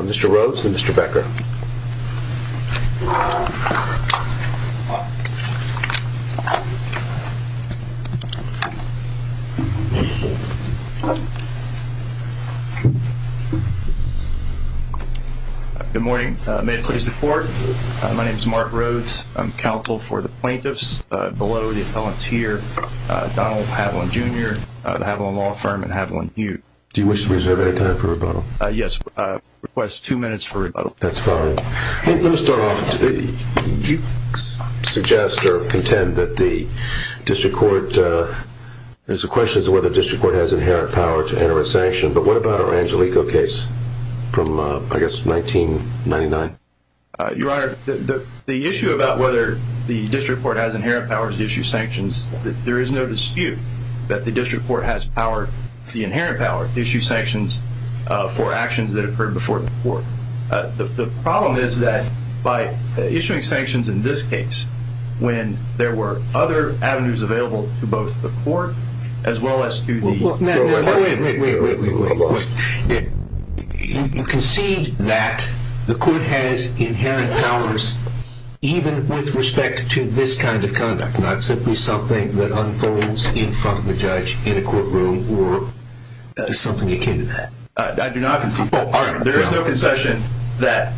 Mr. Rhodes and Mr. Becker Good morning, may it please the court, my name is Mark Rhodes, I'm counsel for the plaintiffs, below the appellants here, Donald Haviland Jr., the Haviland Law Firm, and Haviland Hughes. Do you wish to reserve any time for rebuttal? Yes, request two minutes for rebuttal. That's fine. Let me start off, you suggest or contend that the district court, there's a question as to whether the district court has inherent power to enter a sanction, but what about our Angelico case from, I guess, 1999? Your Honor, the issue about whether the district court has inherent power to issue sanctions, there is no dispute that the district court has power, the inherent power, to issue sanctions for actions that occurred before the court. The problem is that by issuing sanctions in this case, when there were other avenues available to both the court as well as to the... Wait, wait, wait. You concede that the court has inherent powers even with respect to this kind of conduct, not simply something that unfolds in front of a judge in a courtroom or something akin to that? I do not concede that. There is no concession that,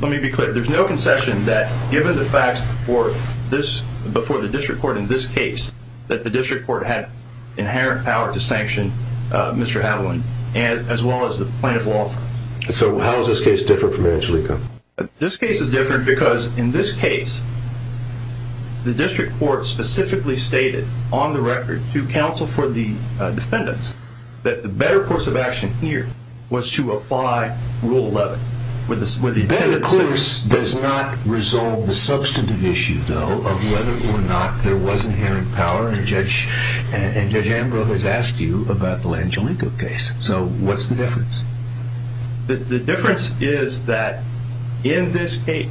let me be clear, there's no concession that given the facts before the district court in this case that the district court had inherent power to sanction Mr. Haviland as well as the plaintiff law firm. So how is this case different from Angelico? This case is different because in this case, the district court specifically stated on the record to counsel for the defendants that the better course of action here was to apply Rule 11. That, of course, does not resolve the substantive issue, though, of whether or not there was inherent power, and Judge Ambrose has asked you about the Angelico case. So what's the difference? The difference is that in this case,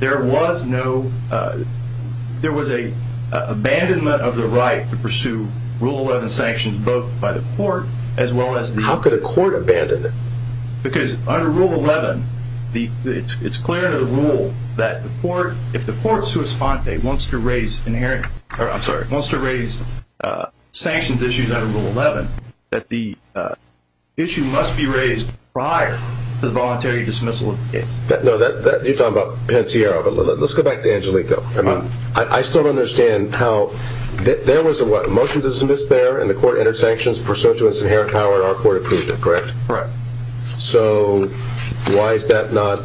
there was a abandonment of the right to pursue Rule 11 sanctions both by the court as well as the... How could a court abandon it? Because under Rule 11, it's clear in the rule that if the court wants to raise sanctions issues under Rule 11, that the issue must be raised prior to the voluntary dismissal of the case. You're talking about Pensiero, but let's go back to Angelico. I still don't understand how... There was a motion to dismiss there, and the court entered sanctions pursuant to its inherent power in our court approval, correct? Correct. So why is that not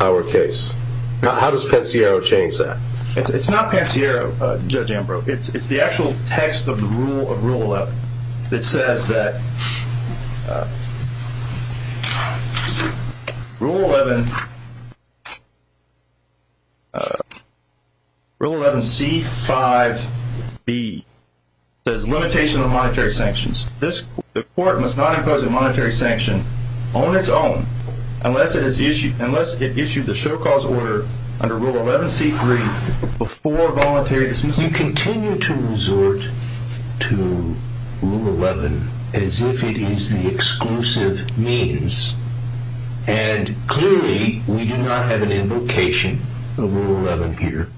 our case? How does Pensiero change that? It's not Pensiero, Judge Ambrose. It's the actual text of the rule of Rule 11 that says that Rule 11... You continue to resort to Rule 11 as if it is the exclusive means, and clearly we do not have an invocation of Rule 11 here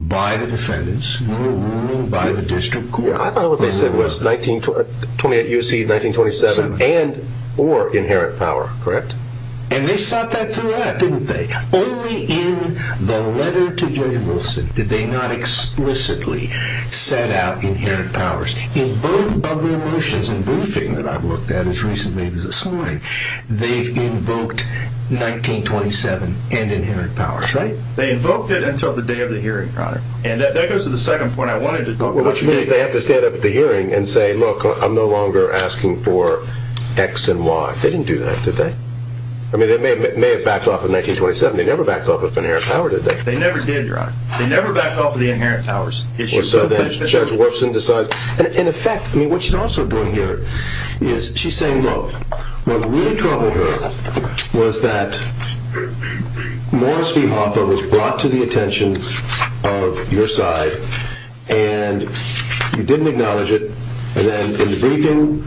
by the defendants. We are ruling by the district court. I thought what they said was 1928 U.C., 1927 and or inherent power, correct? And they sought that throughout, didn't they? Only in the letter to Judge Wilson did they not explicitly set out inherent powers. In both of the motions and briefing that I've looked at as recently as this morning, they've invoked 1927 and inherent powers, right? They invoked it until the day of the hearing, Your Honor. And that goes to the second point I wanted to talk about. Which means they have to stand up at the hearing and say, look, I'm no longer asking for X and Y. They didn't do that, did they? I mean, they may have backed off of 1927. They never backed off of inherent power, did they? They never did, Your Honor. They never backed off of the inherent powers. In effect, what she's also doing here is she's saying, look, what really troubled her was that Morris v. Hoffa was brought to the attention of your side and you didn't acknowledge it. And then in the briefing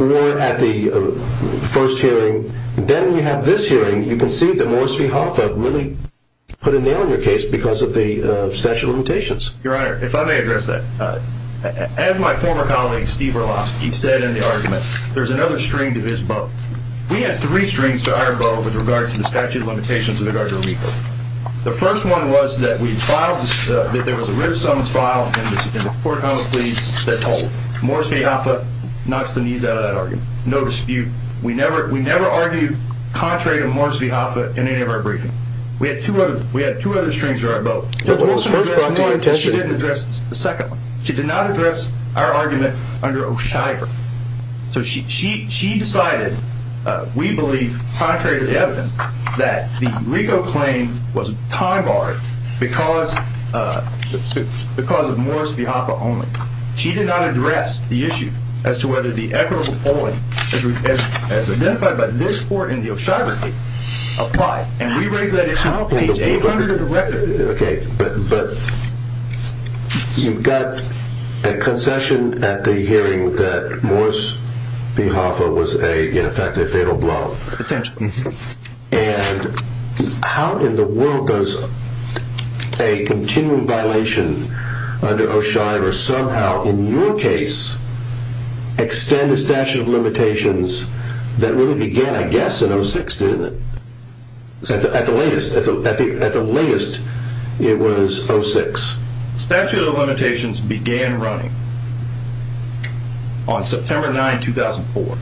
or at the first hearing, then you have this hearing, you can see that Morris v. Hoffa really put a nail in your case because of the statute of limitations. Your Honor, if I may address that, as my former colleague Steve Berlowski said in the argument, there's another string to his bow. We had three strings to our bow with regard to the statute of limitations in regard to RICO. The first one was that we filed, that there was a written summons filed in the court of common pleas that told Morris v. Hoffa knocks the knees out of that argument. No dispute. We never, we never argued contrary to Morris v. Hoffa in any of our briefing. We had two other, we had two other strings to our bow. Judge Wilson addressed one, but she didn't address the second one. She did not address our argument under O'Shyver. So she decided, we believe, contrary to the evidence, that the RICO claim was time barred because of Morris v. Hoffa only. She did not address the issue as to whether the equitable polling as identified by this court in the O'Shyver case applied. And we raised that issue on page 800 of the record. Okay, but you've got a concession at the hearing that Morris v. Hoffa was a, in effect, a fatal blow. Potentially. And how in the world does a continuing violation under O'Shyver somehow, in your case, extend the statute of limitations that really began, I guess, in 06, didn't it? At the latest, at the latest, it was 06. The statute of limitations began running on September 9, 2004.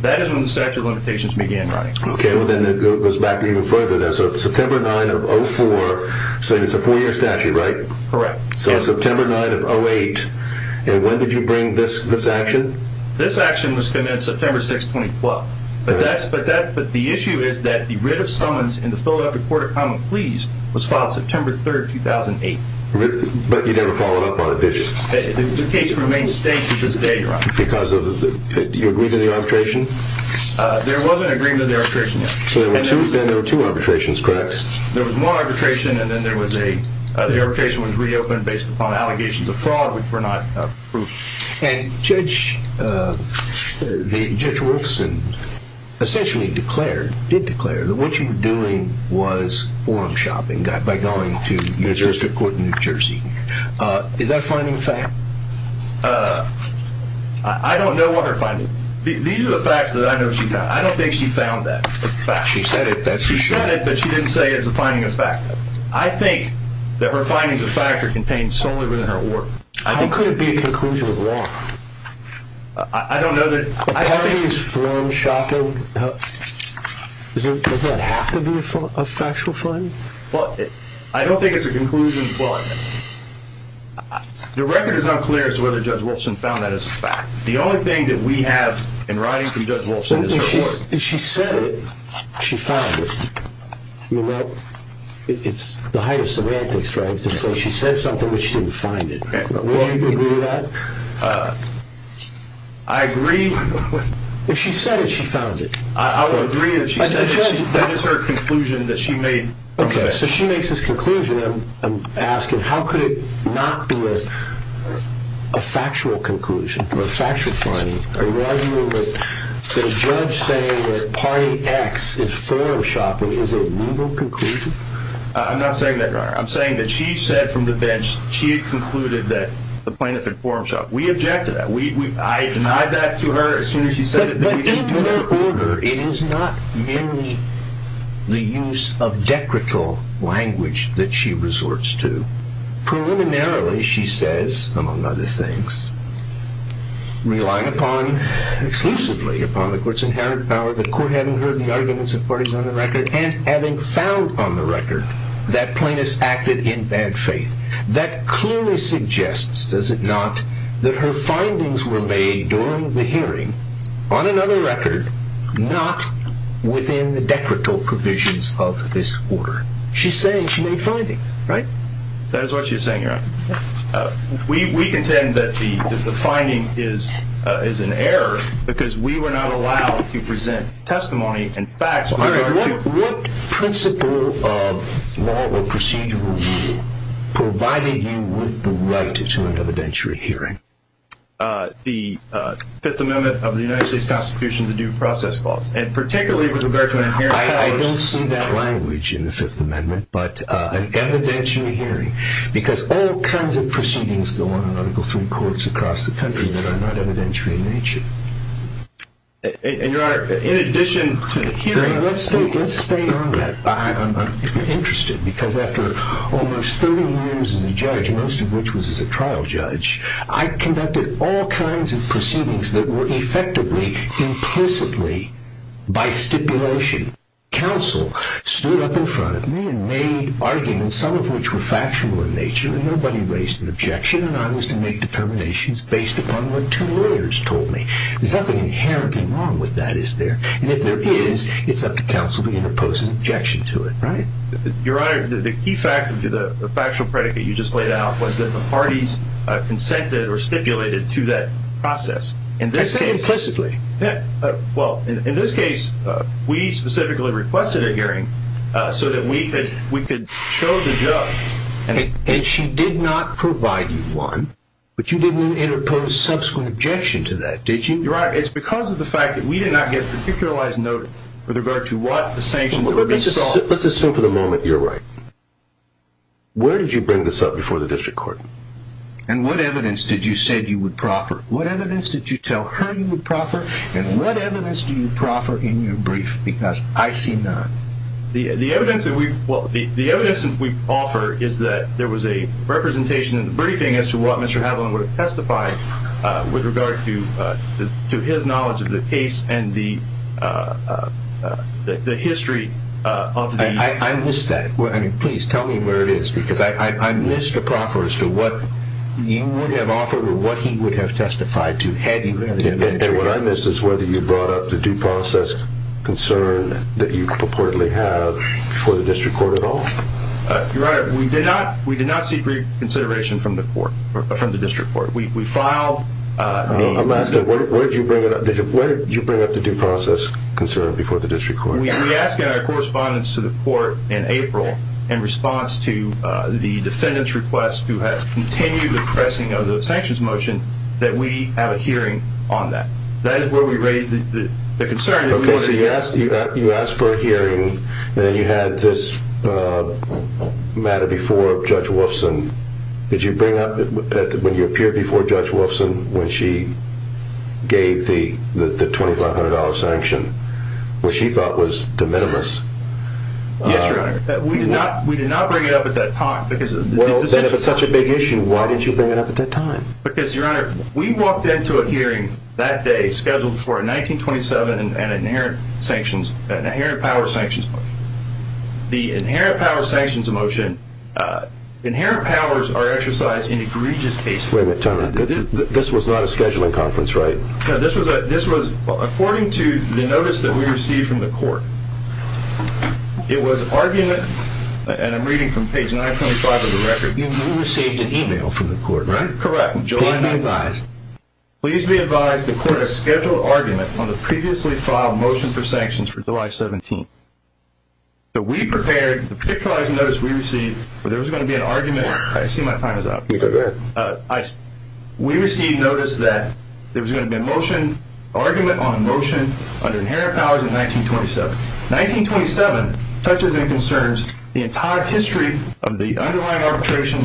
That is when the statute of limitations began running. Okay, well then it goes back even further then. So September 9 of 04, so it's a four-year statute, right? Correct. So September 9 of 08, and when did you bring this action? This action was committed September 6, 2012. But the issue is that the writ of summons in the Philadelphia Court of Common Pleas was filed September 3, 2008. But you never followed up on it, did you? The case remains staked to this day, Your Honor. Because of the, do you agree to the arbitration? There was an agreement of the arbitration, yes. So then there were two arbitrations, correct? There was one arbitration, and then there was a, the arbitration was reopened based upon allegations of fraud, which were not approved. And Judge, Judge Wolfson essentially declared, did declare that what you were doing was forum shopping, by going to New Jersey, New Jersey. Is that a finding of fact? I don't know what her finding, these are the facts that I know she found. I don't think she found that fact. She said it, that's what she said. She said it, but she didn't say it's a finding of fact. I think that her findings of fact are contained solely within her work. How could it be a conclusion of law? I don't know that, I haven't used forum shopping. Does that have to be a factual finding? Well, I don't think it's a conclusion of law. Your record is unclear as to whether Judge Wolfson found that as a fact. The only thing that we have in writing from Judge Wolfson is her work. If she said it, she found it. It's the height of semantics, right, to say she said something, but she didn't find it. Would you agree to that? I agree. If she said it, she found it. I would agree if she said it. That is her conclusion that she made. Okay, so she makes this conclusion. I'm asking, how could it not be a factual conclusion, or a factual finding? The judge saying that party X is forum shopping is a legal conclusion? I'm not saying that, Your Honor. I'm saying that she said from the bench she had concluded that the plaintiff had forum shopping. We object to that. I denied that to her as soon as she said it. But in her order, it is not merely the use of decrical language that she resorts to. Preliminarily, she says, among other things, relying exclusively upon the court's inherent power, the court having heard the arguments of parties on the record, and having found on the record that plaintiffs acted in bad faith. That clearly suggests, does it not, that her findings were made during the hearing, on another record, not within the decrital provisions of this order. She's saying she made findings, right? That is what she is saying, Your Honor. We contend that the finding is an error because we were not allowed to present testimony and facts. All right. What principle of law or procedural rule provided you with the right to an evidentiary hearing? The Fifth Amendment of the United States Constitution, the Due Process Clause. And particularly with regard to an inherent power. I don't see that language in the Fifth Amendment, but an evidentiary hearing. Because all kinds of proceedings go on in Article III courts across the country that are not evidentiary in nature. And, Your Honor, in addition to the hearing. Let's stay on that. I'm interested because after almost 30 years as a judge, most of which was as a trial judge, I conducted all kinds of proceedings that were effectively, implicitly, by stipulation. Counsel stood up in front of me and made arguments, some of which were factional in nature, and nobody raised an objection. And I was to make determinations based upon what two lawyers told me. There's nothing inherently wrong with that, is there? And if there is, it's up to counsel to begin to pose an objection to it, right? Your Honor, the key factor to the factual predicate you just laid out was that the parties consented or stipulated to that process. I said implicitly. Well, in this case, we specifically requested a hearing so that we could show the judge. And she did not provide you one, but you didn't interpose subsequent objection to that, did you? Your Honor, it's because of the fact that we did not get a particularized note with regard to what the sanctions were being sought. Let's assume for the moment you're right. Where did you bring this up before the district court? And what evidence did you say you would proffer? What evidence did you tell her you would proffer? And what evidence do you proffer in your brief? Because I see none. The evidence that we offer is that there was a representation in the briefing as to what Mr. Haviland would have testified with regard to his knowledge of the case and the history of the case. I missed that. I mean, please tell me where it is because I missed the proper as to what you would have offered or what he would have testified to had you had an inventory. And what I missed is whether you brought up the due process concern that you purportedly have for the district court at all. Your Honor, we did not seek reconsideration from the court, from the district court. We filed. I'm asking, where did you bring up the due process concern before the district court? We asked in our correspondence to the court in April in response to the defendant's request to continue the pressing of the sanctions motion that we have a hearing on that. That is where we raised the concern. Okay, so you asked for a hearing and then you had this matter before Judge Wolfson. Did you bring up when you appeared before Judge Wolfson when she gave the $2,500 sanction, what she thought was de minimis? Yes, Your Honor. We did not bring it up at that time. Well, then if it's such a big issue, why didn't you bring it up at that time? Because, Your Honor, we walked into a hearing that day scheduled for a 1927 and an inherent power sanctions motion. The inherent power sanctions motion, inherent powers are exercised in egregious cases. Wait a minute, time out. This was not a scheduling conference, right? No, this was according to the notice that we received from the court. It was argument, and I'm reading from page 925 of the record. You received an email from the court, right? Correct. Please be advised the court has scheduled argument on the previously filed motion for sanctions for July 17th. We prepared the particularized notice we received where there was going to be an argument. I see my time is up. Go ahead. We received notice that there was going to be an argument on a motion under inherent powers in 1927. 1927 touches and concerns the entire history of the underlying arbitration,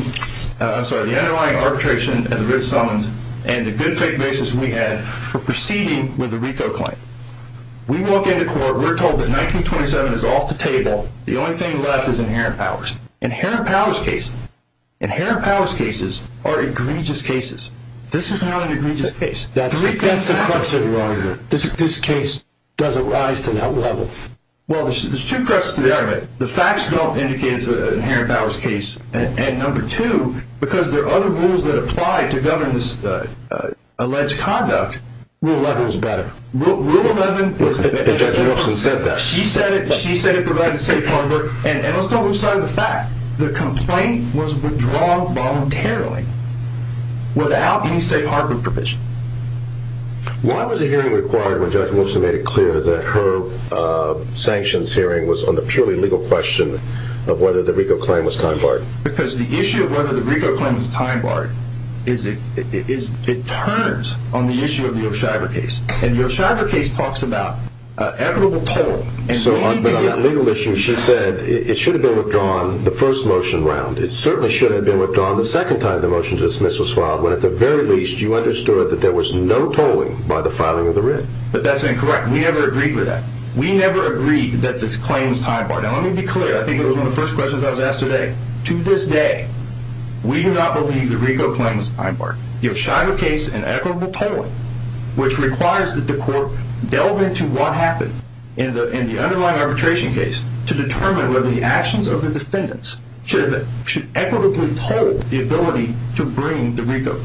I'm sorry, the underlying arbitration of the Writ of Summons and the good faith basis we had for proceeding with the RICO claim. We walk into court, we're told that 1927 is off the table. The only thing left is inherent powers. Inherent powers cases are egregious cases. This is not an egregious case. That's the crux of the argument. This case doesn't rise to that level. Well, there's two cruxes to the argument. The facts don't indicate it's an inherent powers case, and number two, because there are other rules that apply to govern this alleged conduct. Rule 11 was better. Rule 11 was better. Judge Wilson said that. She said it. She said it provided safe harbor, and let's not lose sight of the fact. The complaint was withdrawn voluntarily without any safe harbor provision. Why was a hearing required when Judge Wilson made it clear that her sanctions hearing was on the purely legal question of whether the RICO claim was time barred? Because the issue of whether the RICO claim was time barred, it turns on the issue of the O'Sheaber case, and the O'Sheaber case talks about equitable toll. So on that legal issue, she said it should have been withdrawn the first motion round. It certainly should have been withdrawn the second time the motion to dismiss was filed, when at the very least you understood that there was no tolling by the filing of the writ. But that's incorrect. We never agreed with that. We never agreed that the claim was time barred. Now, let me be clear. I think it was one of the first questions I was asked today. To this day, we do not believe the RICO claim was time barred. The O'Sheaber case and equitable tolling, which requires that the court delve into what happened in the underlying arbitration case to determine whether the actions of the defendants should equitably toll the ability to bring the RICO.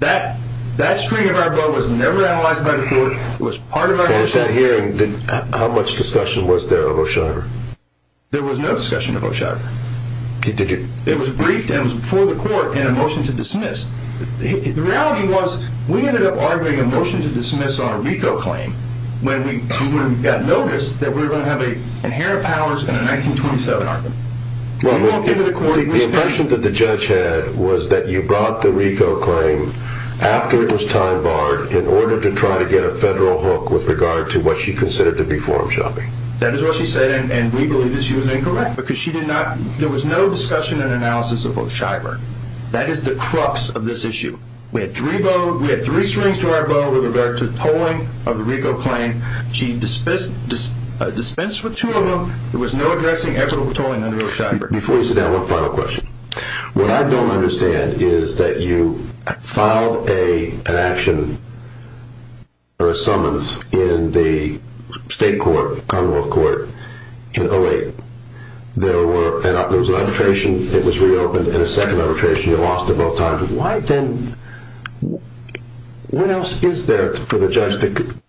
That stream of our blood was never analyzed by the court. It was part of our… How much discussion was there of O'Sheaber? There was no discussion of O'Sheaber. It was briefed and was before the court in a motion to dismiss. The reality was we ended up arguing a motion to dismiss on a RICO claim when we got noticed that we were going to have an inherent powers in a 1927 argument. Well, the impression that the judge had was that you brought the RICO claim after it was time barred in order to try to get a federal hook with regard to what she considered to be forum shopping. That is what she said, and we believe that she was incorrect because she did not… There was no discussion and analysis of O'Sheaber. That is the crux of this issue. We had three strings to our bow with regard to the tolling of the RICO claim. She dispensed with two of them. There was no addressing, equitable tolling under O'Sheaber. Before you sit down, one final question. What I don't understand is that you filed an action or a summons in the state court, commonwealth court in 08. There was an arbitration that was reopened and a second arbitration. You lost it both times. What else is there for the judge to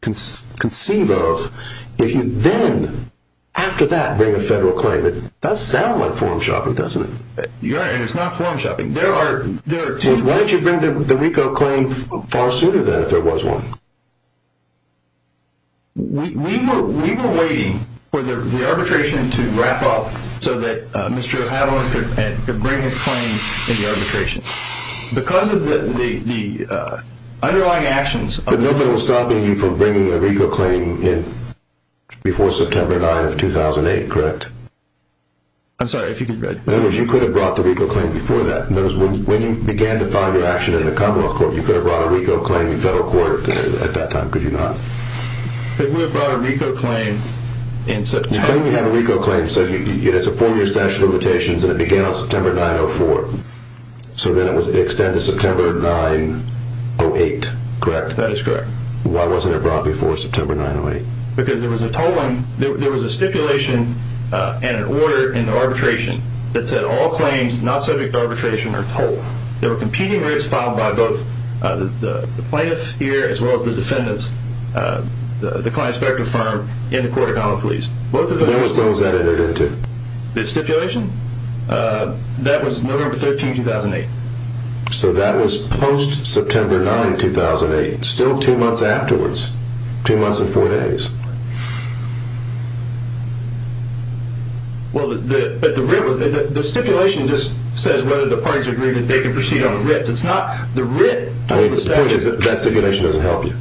conceive of if you then, after that, bring a federal claim? It does sound like forum shopping, doesn't it? It is not forum shopping. Why did you bring the RICO claim far sooner than if there was one? We were waiting for the arbitration to wrap up so that Mr. O'Halloran could bring his claims in the arbitration. Because of the underlying actions… But no one was stopping you from bringing a RICO claim in before September 9 of 2008, correct? I'm sorry, if you could read. In other words, you could have brought the RICO claim before that. When you began to file your action in the commonwealth court, you could have brought a RICO claim in federal court at that time, could you not? We brought a RICO claim in September. You claim you have a RICO claim. You said it's a four-year statute of limitations and it began on September 9 of 2004. So then it was extended to September 9 of 2008, correct? That is correct. Why wasn't it brought before September 9 of 2008? Because there was a stipulation and an order in the arbitration that said all claims not subject to arbitration are told. There were competing rates filed by both the plaintiff here as well as the defendants, the client-inspector firm in the court of common police. When was that entered into? The stipulation? That was November 13, 2008. So that was post-September 9, 2008. Still two months afterwards. Two months and four days. Well, the stipulation just says whether the parties agree that they can proceed on the writ. It's not the writ told the statute. The point is that stipulation doesn't help you.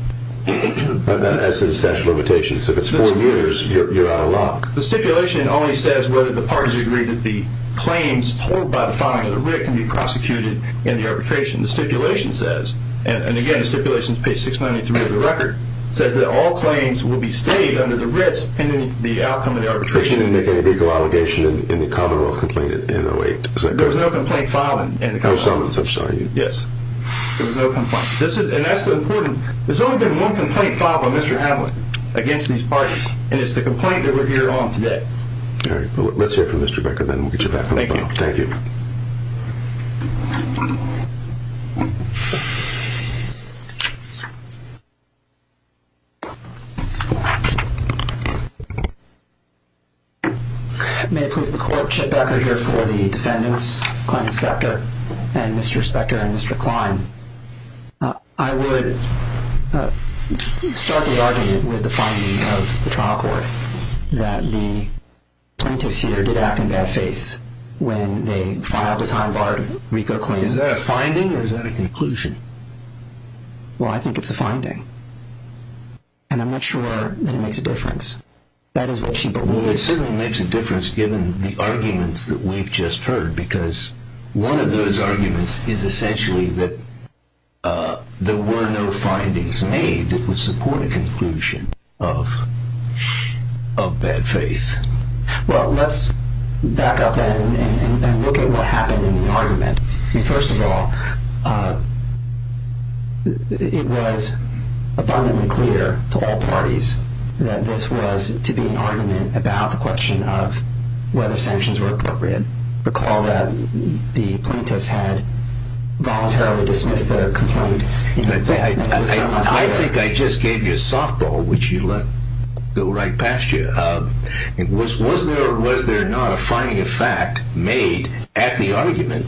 That's the statute of limitations. If it's four years, you're out of luck. The stipulation only says whether the parties agree that the claims told by the filing of the writ can be prosecuted in the arbitration. The stipulation says, and again the stipulation is page 693 of the record, says that all claims will be stayed under the writs pending the outcome of the arbitration. But you didn't make any legal allegation in the commonwealth complaint in 08? There was no complaint filed in the commonwealth. No summons, I'm sorry. Yes, there was no complaint. And that's the important. There's only been one complaint filed by Mr. Hamlin against these parties, and it's the complaint that we're hearing on today. All right. Let's hear from Mr. Becker, then we'll get you back on the phone. Thank you. Thank you. May it please the court, Chip Becker here for the defendants, client inspector and Mr. Inspector and Mr. Klein. I would start the argument with the finding of the trial court that the plaintiffs here did act in bad faith when they filed the time-barred RICO claim. Is that a finding or is that a conclusion? Well, I think it's a finding. And I'm not sure that it makes a difference. That is what she believes. Well, it certainly makes a difference given the arguments that we've just heard because one of those arguments is essentially that there were no findings made that would support a conclusion of bad faith. Well, let's back up and look at what happened in the argument. First of all, it was abundantly clear to all parties that this was to be an argument about the question of whether sanctions were appropriate. Recall that the plaintiffs had voluntarily dismissed the complaint. I think I just gave you a softball, which you let go right past you. Was there or was there not a finding of fact made at the argument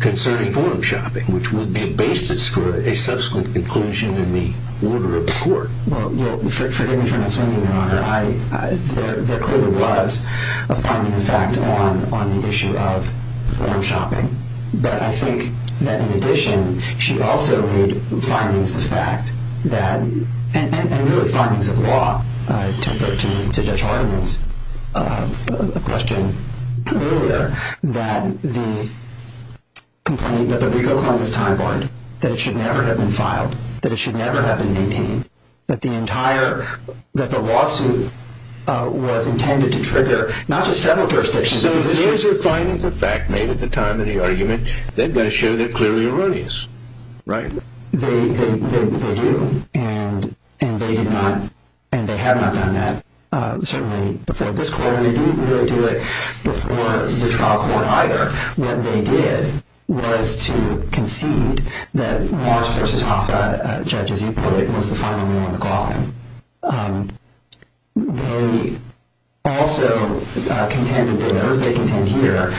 concerning forum shopping, which would be a basis for a subsequent conclusion in the order of court? Well, forgive me for not saying that, Your Honor. There clearly was a finding of fact on the issue of forum shopping. But I think that in addition, she also made findings of fact that and really findings of law. To go to Judge Hardeman's question earlier, that the RICO claim was time-barred, that it should never have been filed, that it should never have been maintained, that the lawsuit was intended to trigger not just federal jurisdictions but the district. So these are findings of fact made at the time of the argument. They've got to show they're clearly erroneous, right? They do. And they have not done that, certainly, before this court. And they didn't really do it before the trial court either. What they did was to concede that Morris v. Hoffa, Judge, as you put it, was the final nail in the coffin. They also contended, as they contend here,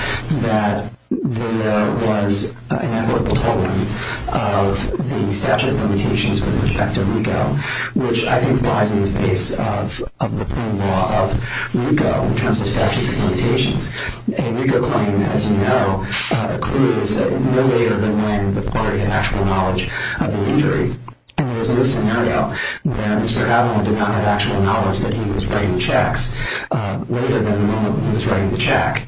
that there was an inevitable tolling of the statute of limitations with respect to RICO, which I think lies in the face of the plain law of RICO in terms of statutes of limitations. And a RICO claim, as you know, clearly said no later than when the party had actual knowledge of the injury. And there was no scenario where Mr. Adler did not have actual knowledge that he was writing checks later than the moment he was writing the check.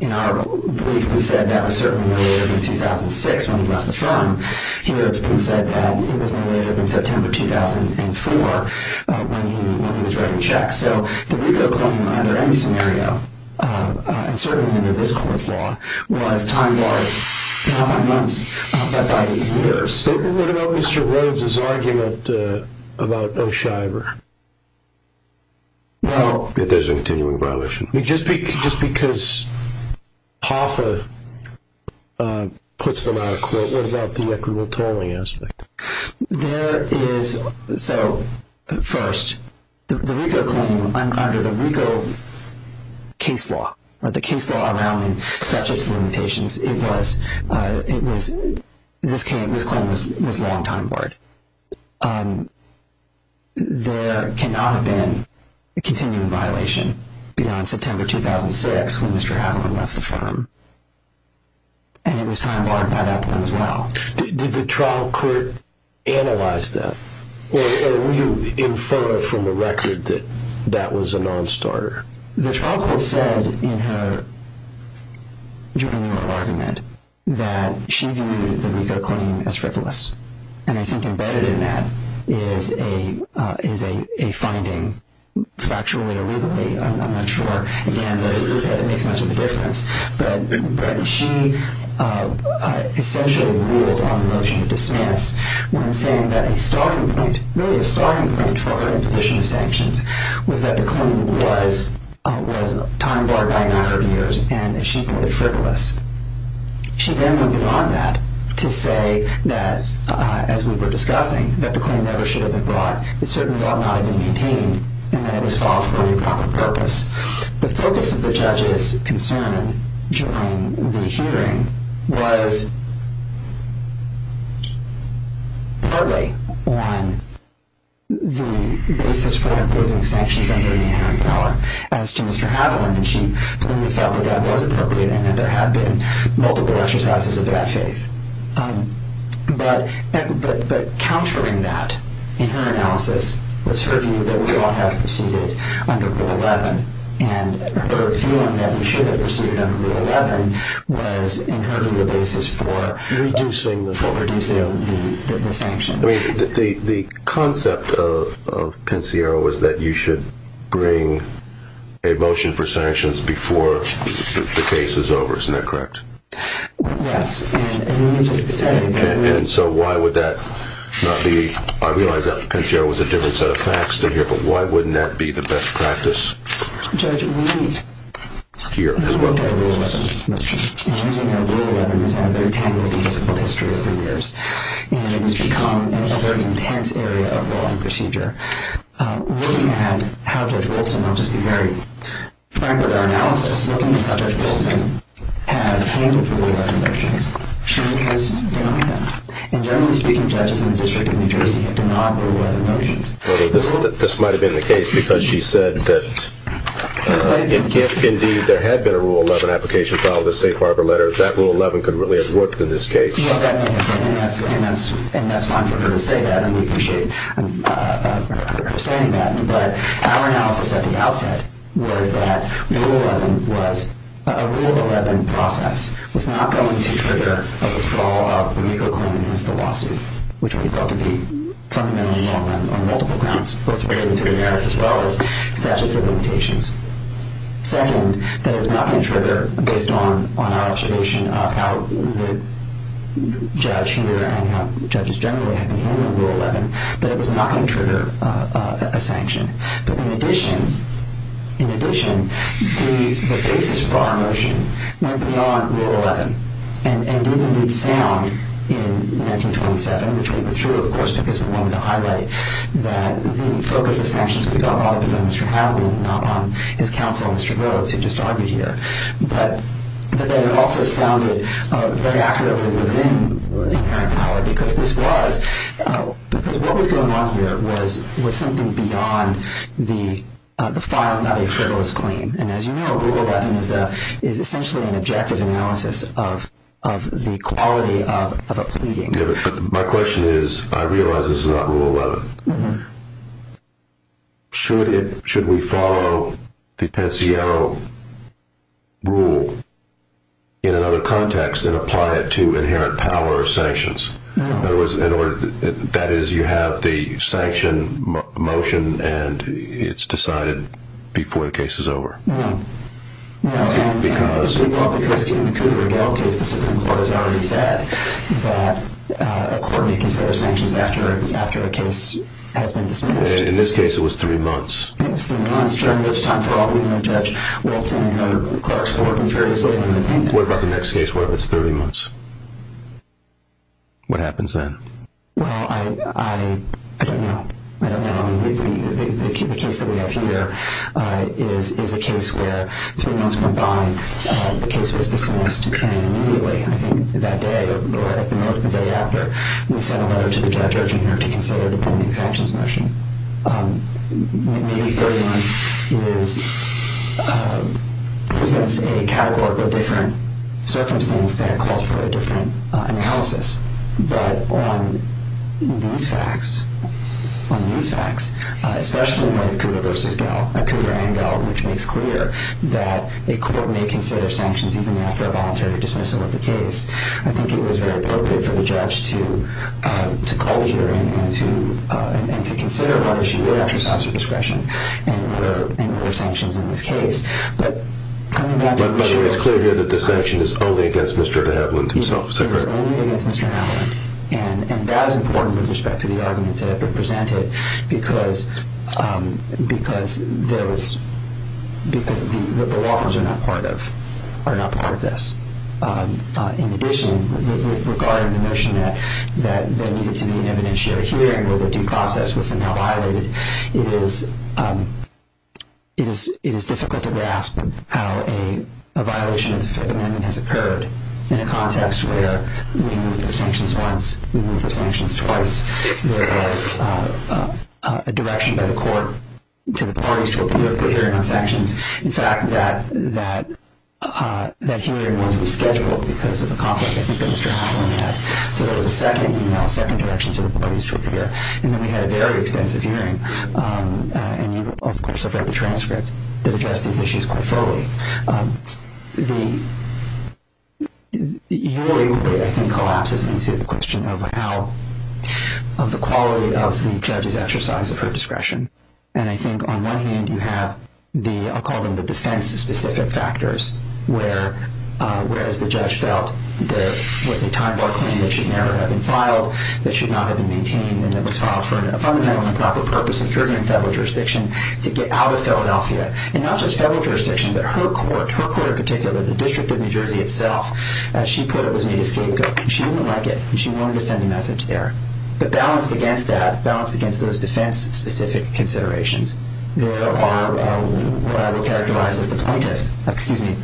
In our brief, we said that was certainly no later than 2006 when he left the firm. Here it's been said that it was no later than September 2004 when he was writing checks. So the RICO claim under any scenario, and certainly under this court's law, was time-barred not by months but by years. But what about Mr. Rhodes' argument about O'Shyver? There's a continuing violation. Just because Hoffa puts them out of court, what about the equitable tolling aspect? So first, the RICO claim under the RICO case law, or the case law around statutes of limitations, this claim was long time-barred. There cannot have been a continuing violation beyond September 2006 when Mr. Adler left the firm. And it was time-barred by that point as well. Did the trial court analyze that? Or were you informed from the record that that was a non-starter? The trial court said in her joint legal argument that she viewed the RICO claim as frivolous. And I think embedded in that is a finding, factually or legally, I'm not sure. Again, it makes much of a difference. But she essentially ruled on the motion to dismiss when saying that a starting point, really a starting point for her imposition of sanctions, was that the claim was time-barred by 900 years and that she viewed it frivolous. She then went beyond that to say that, as we were discussing, that the claim never should have been brought. It certainly had not been maintained. And that it was filed for irreprochable purpose. The focus of the judge's concern during the hearing was partly on the basis for imposing sanctions under the inherent power as to Mr. Adler. And she clearly felt that that was appropriate and that there had been multiple exercises of that faith. But countering that, in her analysis, was her view that we all have proceeded under Rule 11. And her feeling that we should have proceeded under Rule 11 was, in her view, the basis for reducing the sanctions. I mean, the concept of Pensiero was that you should bring a motion for sanctions before the case is over. Isn't that correct? Yes. And so why would that not be? I realize that Pensiero was a different set of facts than here, but why wouldn't that be the best practice here as well? As we know, Rule 11 has had a very tangibly difficult history over the years. And it has become a very intense area of law and procedure. Looking at how Judge Wilson, I'll just be very frank with our analysis, looking at Judge Wilson has handled Rule 11 motions, she has denied them. And generally speaking, judges in the District of New Jersey have denied Rule 11 motions. This might have been the case because she said that if, indeed, there had been a Rule 11 application filed with the Safe Harbor letter, that Rule 11 could really have worked in this case. Yes, that may have been. And that's fine for her to say that, and we appreciate her saying that. But our analysis at the outset was that Rule 11 was a Rule 11 process. It was not going to trigger a withdrawal of the MECO claim against the lawsuit, which we felt to be fundamentally wrong on multiple grounds, both related to the merits as well as statutes of limitations. Second, that it was not going to trigger, based on our observation of how the judge here and how judges generally have been handling Rule 11, that it was not going to trigger a sanction. But in addition, the basis for our motion went beyond Rule 11 and did, indeed, sound in 1927, which we withdrew, of course, because we wanted to highlight that the focus of sanctions we thought ought to be on Mr. Hadley and not on his counsel, Mr. Rhodes, who just argued here. But that it also sounded very accurately within the inherent power, because what was going on here was something beyond the filing of a frivolous claim. And as you know, Rule 11 is essentially an objective analysis of the quality of a pleading. My question is, I realize this is not Rule 11. Should we follow the Pensiero rule in another context and apply it to inherent power or sanctions? That is, you have the sanction motion, and it's decided before the case is over. In this case, it was three months. It was three months. During this time, for all we know, Judge Walton and other clerks were working very slowly. What about the next case? What if it's 30 months? What happens then? Well, I don't know. I don't know. The case that we have here is a case where three months went by. The case was dismissed immediately, I think, that day, or at the most, the day after. We sent a letter to the judge urging her to consider the pending sanctions motion. Maybe 30 months presents a categorical different circumstance that calls for a different analysis. But on these facts, on these facts, especially in light of Cougar v. Gell, a Cougar and Gell, which makes clear that a court may consider sanctions even after a voluntary dismissal of the case, I think it was very appropriate for the judge to call the hearing and to consider what issue it actually sought for discretion and what are sanctions in this case. But it's clear here that the sanction is only against Mr. DeHavilland himself, is that correct? Yes, it is only against Mr. DeHavilland. And that is important with respect to the arguments that have been presented because the law firms are not part of this. In addition, regarding the notion that there needed to be an evidentiary hearing where the due process was somehow violated, it is difficult to grasp how a violation of the Fifth Amendment has occurred in a context where we moved the sanctions once, we moved the sanctions twice, there was a direction by the court to the parties to appeal if we're hearing on sanctions. In fact, that hearing was rescheduled because of a conflict I think that Mr. DeHavilland had. So there was a second email, a second direction to the parties to appeal. And then we had a very extensive hearing. And you, of course, have read the transcript that addressed these issues quite thoroughly. Your inquiry, I think, collapses into the question of how, of the quality of the judge's exercise of her discretion. And I think on one hand you have the, I'll call them the defense-specific factors, where, as the judge felt, there was a time-bar claim that should never have been filed, that should not have been maintained, and that was filed for a fundamental and proper purpose of jurisdiction in federal jurisdiction to get out of Philadelphia. And not just federal jurisdiction, but her court, her court in particular, the District of New Jersey itself, as she put it, was made a scapegoat. And she didn't like it, and she wanted to send a message there. But balanced against that, balanced against those defense-specific considerations, there are what I would characterize as the plaintiff. Excuse me.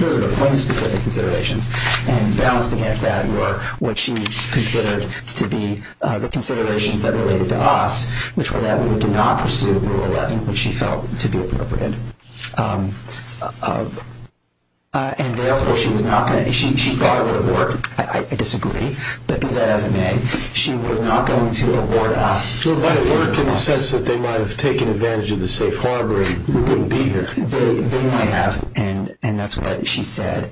Those are the plaintiff-specific considerations. And balanced against that were what she considered to be the considerations that related to us, which were that we would not pursue Rule 11, which she felt to be appropriate. And therefore, she thought it would have worked. I disagree. But be that as it may, she was not going to award us. But it worked in the sense that they might have taken advantage of the safe harbor and we wouldn't be here. They might have, and that's what she said.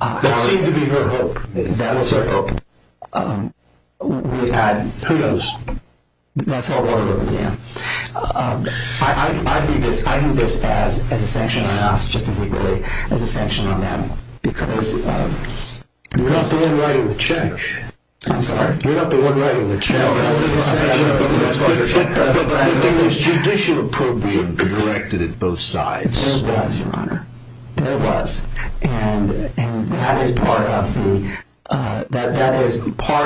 That seemed to be her hope. That was her hope. Who knows? That's how it worked with them. I view this as a sanction on us, just as I view it as a sanction on them, because we're not the one writing the check. I'm sorry? We're not the one writing the check. I'm just saying that's how it worked. But there was judicial approval directed at both sides. There was, Your Honor. There was. And that is part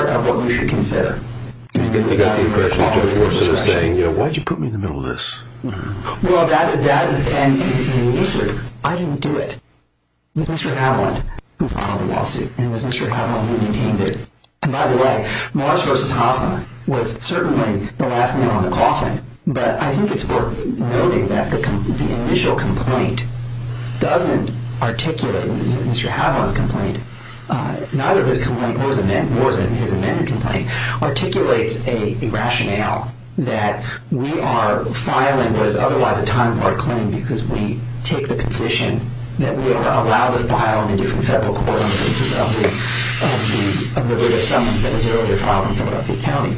of what we should consider. You got the impression Judge Wilson is saying, you know, why did you put me in the middle of this? Well, that and the answer is I didn't do it. It was Mr. Haviland who filed the lawsuit, and it was Mr. Haviland who maintained it. And by the way, Morris v. Hoffman was certainly the last nail in the coffin. But I think it's worth noting that the initial complaint doesn't articulate Mr. Haviland's complaint. Neither his complaint nor his amended complaint articulates a rationale that we are filing what is otherwise a time-barred claim because we take the position that we are allowed to file in a different federal court on the basis of the writ of summons that was earlier filed in Philadelphia County.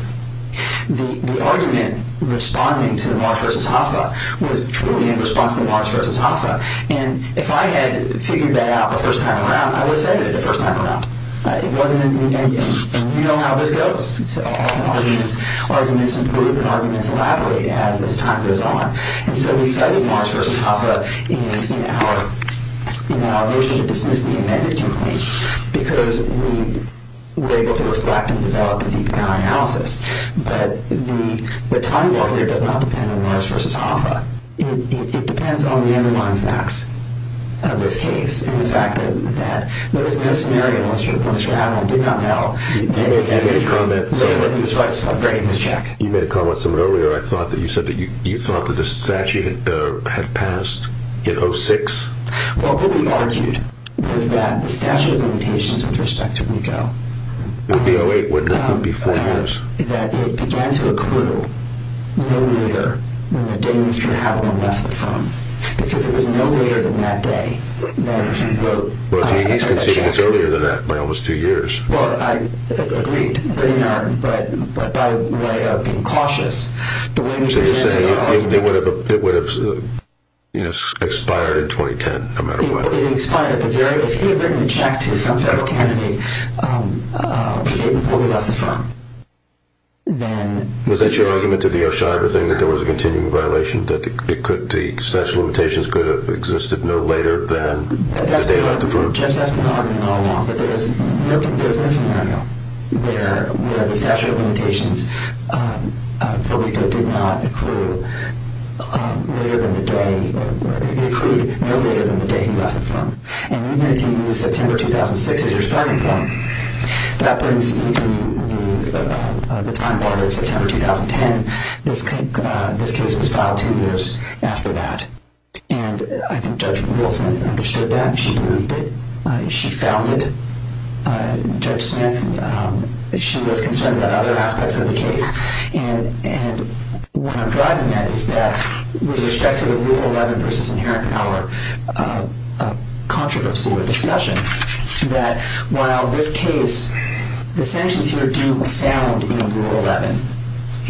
The argument responding to Morris v. Hoffman was truly in response to Morris v. Hoffman. And if I had figured that out the first time around, I would have said it the first time around. It wasn't an immediate, and you know how this goes. So often arguments improve and arguments elaborate as time goes on. And so we cited Morris v. Hoffman in our motion to dismiss the amended complaint because we were able to reflect and develop a deeper analysis. But the time-bar here does not depend on Morris v. Hoffman. It depends on the underlying facts of this case, and the fact that there was no scenario in which Mr. Haviland did not know. You made a comment somewhat earlier. I thought that you said that you thought that the statute had passed in 06. Well, what we argued was that the statute of limitations with respect to RICO It would be 08, wouldn't it? It would be four years. That it began to accrue no later than the day Mr. Haviland left the firm because it was no later than that day that he wrote. Well, he's conceding it's earlier than that by almost two years. Well, I agreed, but by way of being cautious. So you're saying it would have expired in 2010, no matter what? It would have expired at the very, if he had written the check to some federal candidate before he left the firm. Was that your argument to the O'Shea everything, that there was a continuing violation, that the statute of limitations could have existed no later than the day he left the firm? Well, Jeff's has been arguing all along that there is this scenario where the statute of limitations for RICO did not accrue later than the day, it accrued no later than the day he left the firm. And even if you use September 2006 as your starting point, that brings me to the time order of September 2010. This case was filed two years after that. And I think Judge Wilson understood that. She moved it. She founded it. Judge Smith, she was concerned about other aspects of the case. And what I'm driving at is that with respect to the Rule 11 versus inherent power controversy or discussion, that while this case, the sanctions here do sound in Rule 11,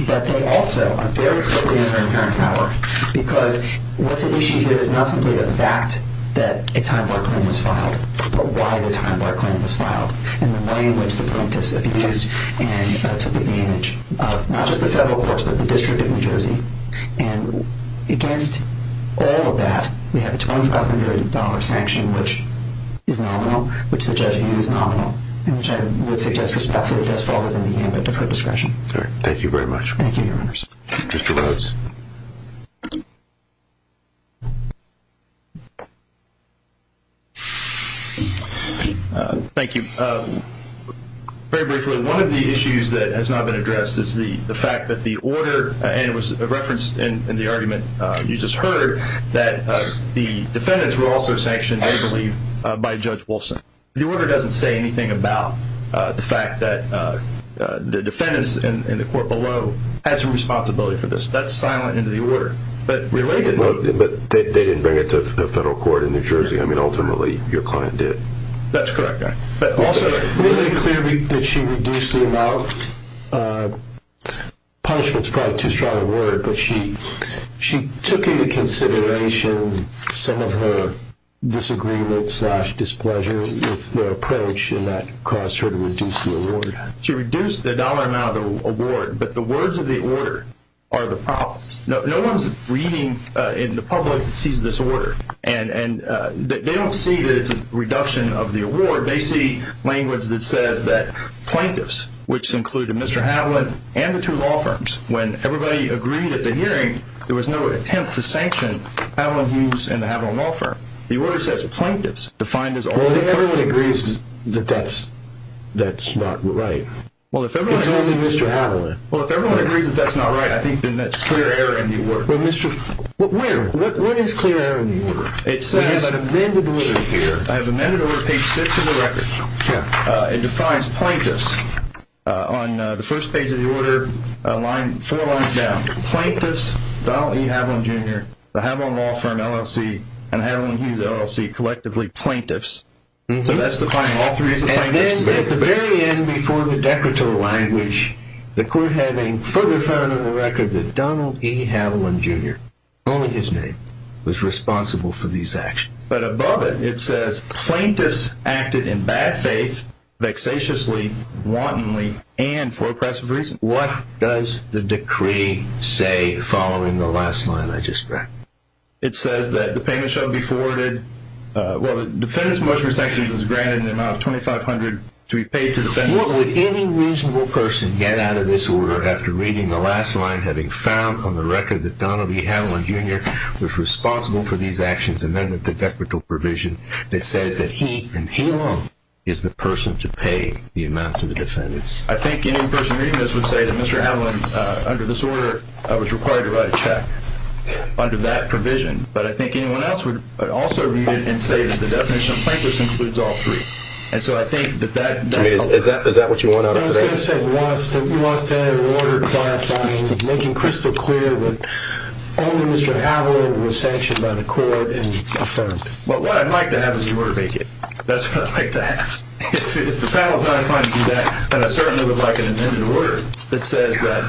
that they also are very clearly inherent in inherent power because what's at issue here is not simply the fact that a time-bar claim was filed, but why the time-bar claim was filed and the way in which the plaintiffs have used and took advantage of not just the federal courts but the District of New Jersey. And against all of that, we have a $2,500 sanction which is nominal, which I would suggest respectfully does fall within the ambit of her discretion. All right. Thank you very much. Thank you, Your Honors. Mr. Rhodes. Thank you. Very briefly, one of the issues that has not been addressed is the fact that the order, and it was referenced in the argument you just heard, that the defendants were also sanctioned, they believe, by Judge Wilson. The order doesn't say anything about the fact that the defendants in the court below had some responsibility for this. That's silent in the order. But relatedly— But they didn't bring it to a federal court in New Jersey. I mean, ultimately, your client did. That's correct. But also— Let me make it clear that she reduced the amount of punishments. That's probably too strong a word, but she took into consideration some of her disagreement slash displeasure with the approach, and that caused her to reduce the award. She reduced the dollar amount of the award, but the words of the order are the problem. No one's reading in the public sees this order. And they don't see that it's a reduction of the award. They see language that says that plaintiffs, which included Mr. Haviland and the two law firms, when everybody agreed at the hearing, there was no attempt to sanction Haviland Hughes and the Haviland law firm. The order says plaintiffs defined as— Well, if everyone agrees that that's not right— Well, if everyone— It's only Mr. Haviland. Well, if everyone agrees that that's not right, I think then that's clear error in the order. Well, Mr.— Well, where? Where is clear error in the order? It says— We have an amended order here. I have an amended order, page 6 of the record. It defines plaintiffs on the first page of the order, four lines down. Plaintiffs, Donald E. Haviland, Jr., the Haviland law firm, LLC, and Haviland Hughes, LLC, collectively plaintiffs. So that's defining all three as plaintiffs. And then at the very end, before the decorator language, the court had a footer found in the record that Donald E. Haviland, Jr., only his name, was responsible for these actions. But above it, it says, plaintiffs acted in bad faith, vexatiously, wantonly, and for oppressive reasons. What does the decree say following the last line I just read? It says that the payment shall be forwarded—well, the defendant's motion for sanctions is granted in the amount of $2,500 to be paid to the defendant. What would any reasonable person get out of this order after reading the last line, having found on the record that Donald E. Haviland, Jr., was responsible for these actions, and then the decorator provision that says that he and he alone is the person to pay the amount to the defendants? I think any person reading this would say that Mr. Haviland, under this order, was required to write a check under that provision. But I think anyone else would also read it and say that the definition of plaintiffs includes all three. And so I think that that— Is that what you want out of today? I was going to say you want us to have an order clarifying, making crystal clear that only Mr. Haviland was sanctioned by the court and affirmed. Well, what I'd like to have is the order make it. That's what I'd like to have. If the panel is not inclined to do that, then I certainly would like an amended order that says that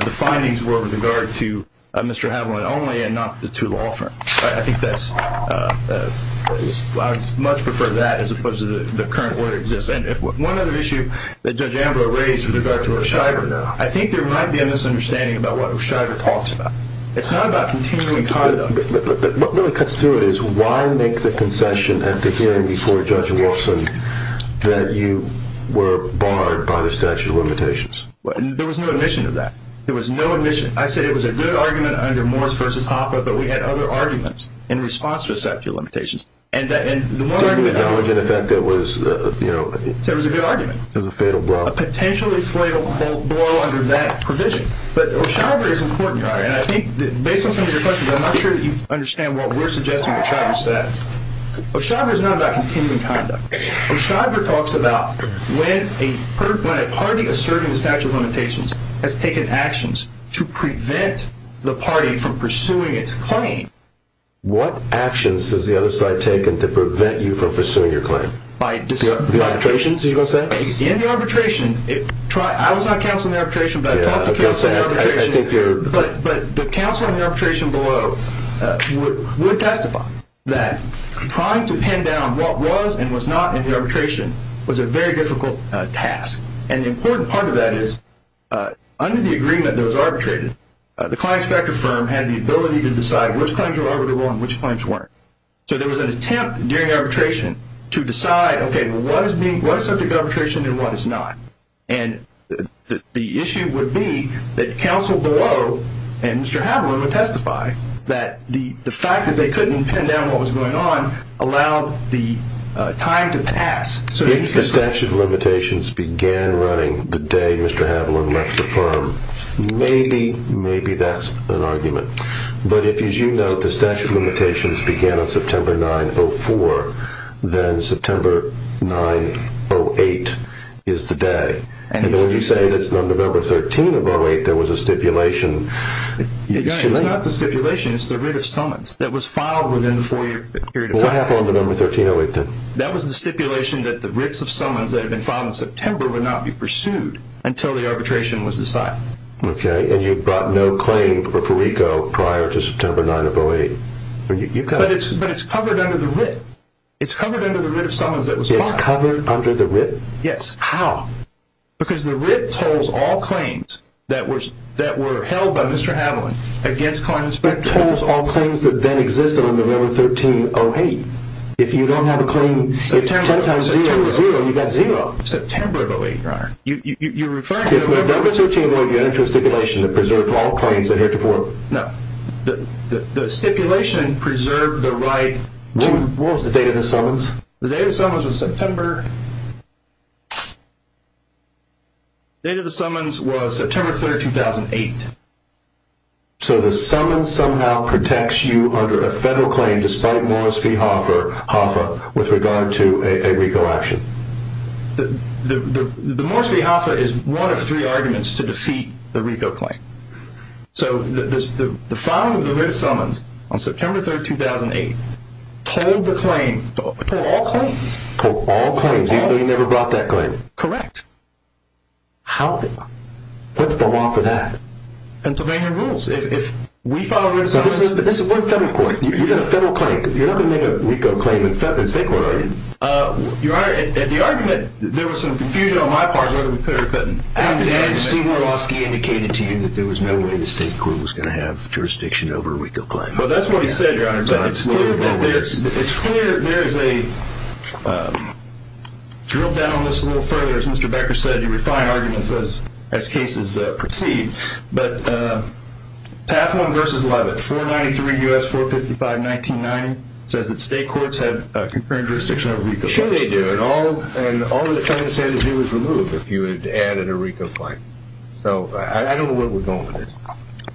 the findings were with regard to Mr. Haviland only and not to the law firm. I think that's—I would much prefer that as opposed to the current order that exists. And one other issue that Judge Ambrose raised with regard to O'Shyver, though, I think there might be a misunderstanding about what O'Shyver talks about. It's not about continuing conduct. What really cuts through it is why make the concession at the hearing before Judge Wolfson that you were barred by the statute of limitations? There was no admission to that. There was no admission. I said it was a good argument under Morris v. Hoffa, but we had other arguments in response to the statute of limitations. So it was a good argument. It was a fatal blow. A potentially fatal blow under that provision. But O'Shyver is important to argue. And I think, based on some of your questions, I'm not sure that you understand what we're suggesting O'Shyver says. O'Shyver is not about continuing conduct. O'Shyver talks about when a party asserting the statute of limitations has taken actions to prevent the party from pursuing its claim. What actions has the other side taken to prevent you from pursuing your claim? The arbitrations, are you going to say? In the arbitration, I was not counsel in the arbitration, but I talked to counsel in the arbitration. But the counsel in the arbitration below would testify that trying to pin down what was and was not in the arbitration was a very difficult task. And the important part of that is, under the agreement that was arbitrated, the claims factor firm had the ability to decide which claims were arbitrable and which claims weren't. So there was an attempt during arbitration to decide, okay, what is subject to arbitration and what is not. And the issue would be that counsel below and Mr. Haviland would testify that the fact that they couldn't pin down what was going on allowed the time to pass. If the statute of limitations began running the day Mr. Haviland left the firm, maybe that's an argument. But if, as you note, the statute of limitations began on September 9, 2004, then September 9, 2008 is the day. And when you say that it's on November 13, 2008, there was a stipulation. It's not the stipulation, it's the writ of summons that was filed within the four-year period of time. What happened on November 13, 2008, then? That was the stipulation that the writs of summons that had been filed in September would not be pursued until the arbitration was decided. Okay, and you brought no claim for Ferrico prior to September 9, 2008. But it's covered under the writ. It's covered under the writ of summons that was filed. It's covered under the writ? Yes. How? Because the writ tolls all claims that were held by Mr. Haviland against client inspector. It tolls all claims that then existed on November 13, 2008. If you don't have a claim, if 10 times 0 is 0, you've got 0. September of 2008, Your Honor. You're referring to November 13, 2008, you entered into a stipulation that preserves all claims that are here to form. No. The stipulation preserved the right to… What was the date of the summons? The date of the summons was September… The date of the summons was September 3, 2008. So the summons somehow protects you under a federal claim despite Morris v. Hoffa with regard to a RICO action? The Morris v. Hoffa is one of three arguments to defeat the RICO claim. So the filing of the writ of summons on September 3, 2008, told the claim, told all claims. Told all claims, even though you never brought that claim? Correct. How? What's the law for that? Pennsylvania rules. If we file a writ of summons… But this is one federal court. You've got a federal claim. You're not going to make a RICO claim in the state court, are you? Your Honor, at the argument, there was some confusion on my part, I'll be clear, but… And Steve Morawoski indicated to you that there was no way the state court was going to have jurisdiction over a RICO claim. Well, that's what he said, Your Honor, but it's clear that there is a… The judge's record said you refine arguments as cases proceed, but Taft v. Levitt, 493 U.S. 455-1990, says that state courts have concurrent jurisdiction over RICO claims. Sure they do, and all the defendants had to do was remove if you had added a RICO claim. So I don't know where we're going with this.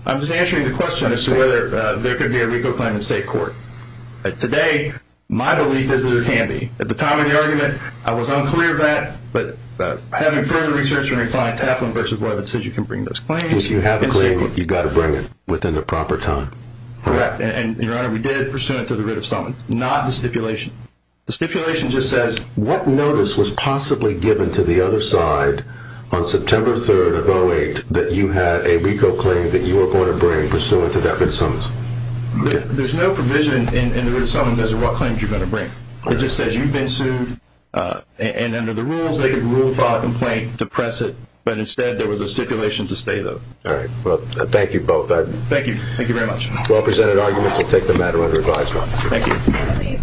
I'm just answering the question as to whether there could be a RICO claim in state court. Today, my belief is that it can be. At the time of the argument, I was unclear of that, but having further research and refined, Taft v. Levitt says you can bring those claims. If you have a claim, you've got to bring it within the proper time. Correct, and Your Honor, we did, pursuant to the writ of summons, not the stipulation. The stipulation just says… What notice was possibly given to the other side on September 3rd of 2008 that you had a RICO claim that you were going to bring pursuant to that writ of summons? There's no provision in the writ of summons as to what claims you're going to bring. It just says you've been sued, and under the rules, they can rule, file a complaint, depress it. But instead, there was a stipulation to stay, though. All right, well, thank you both. Thank you. Thank you very much. Well-presented arguments will take the matter under advisory. Thank you.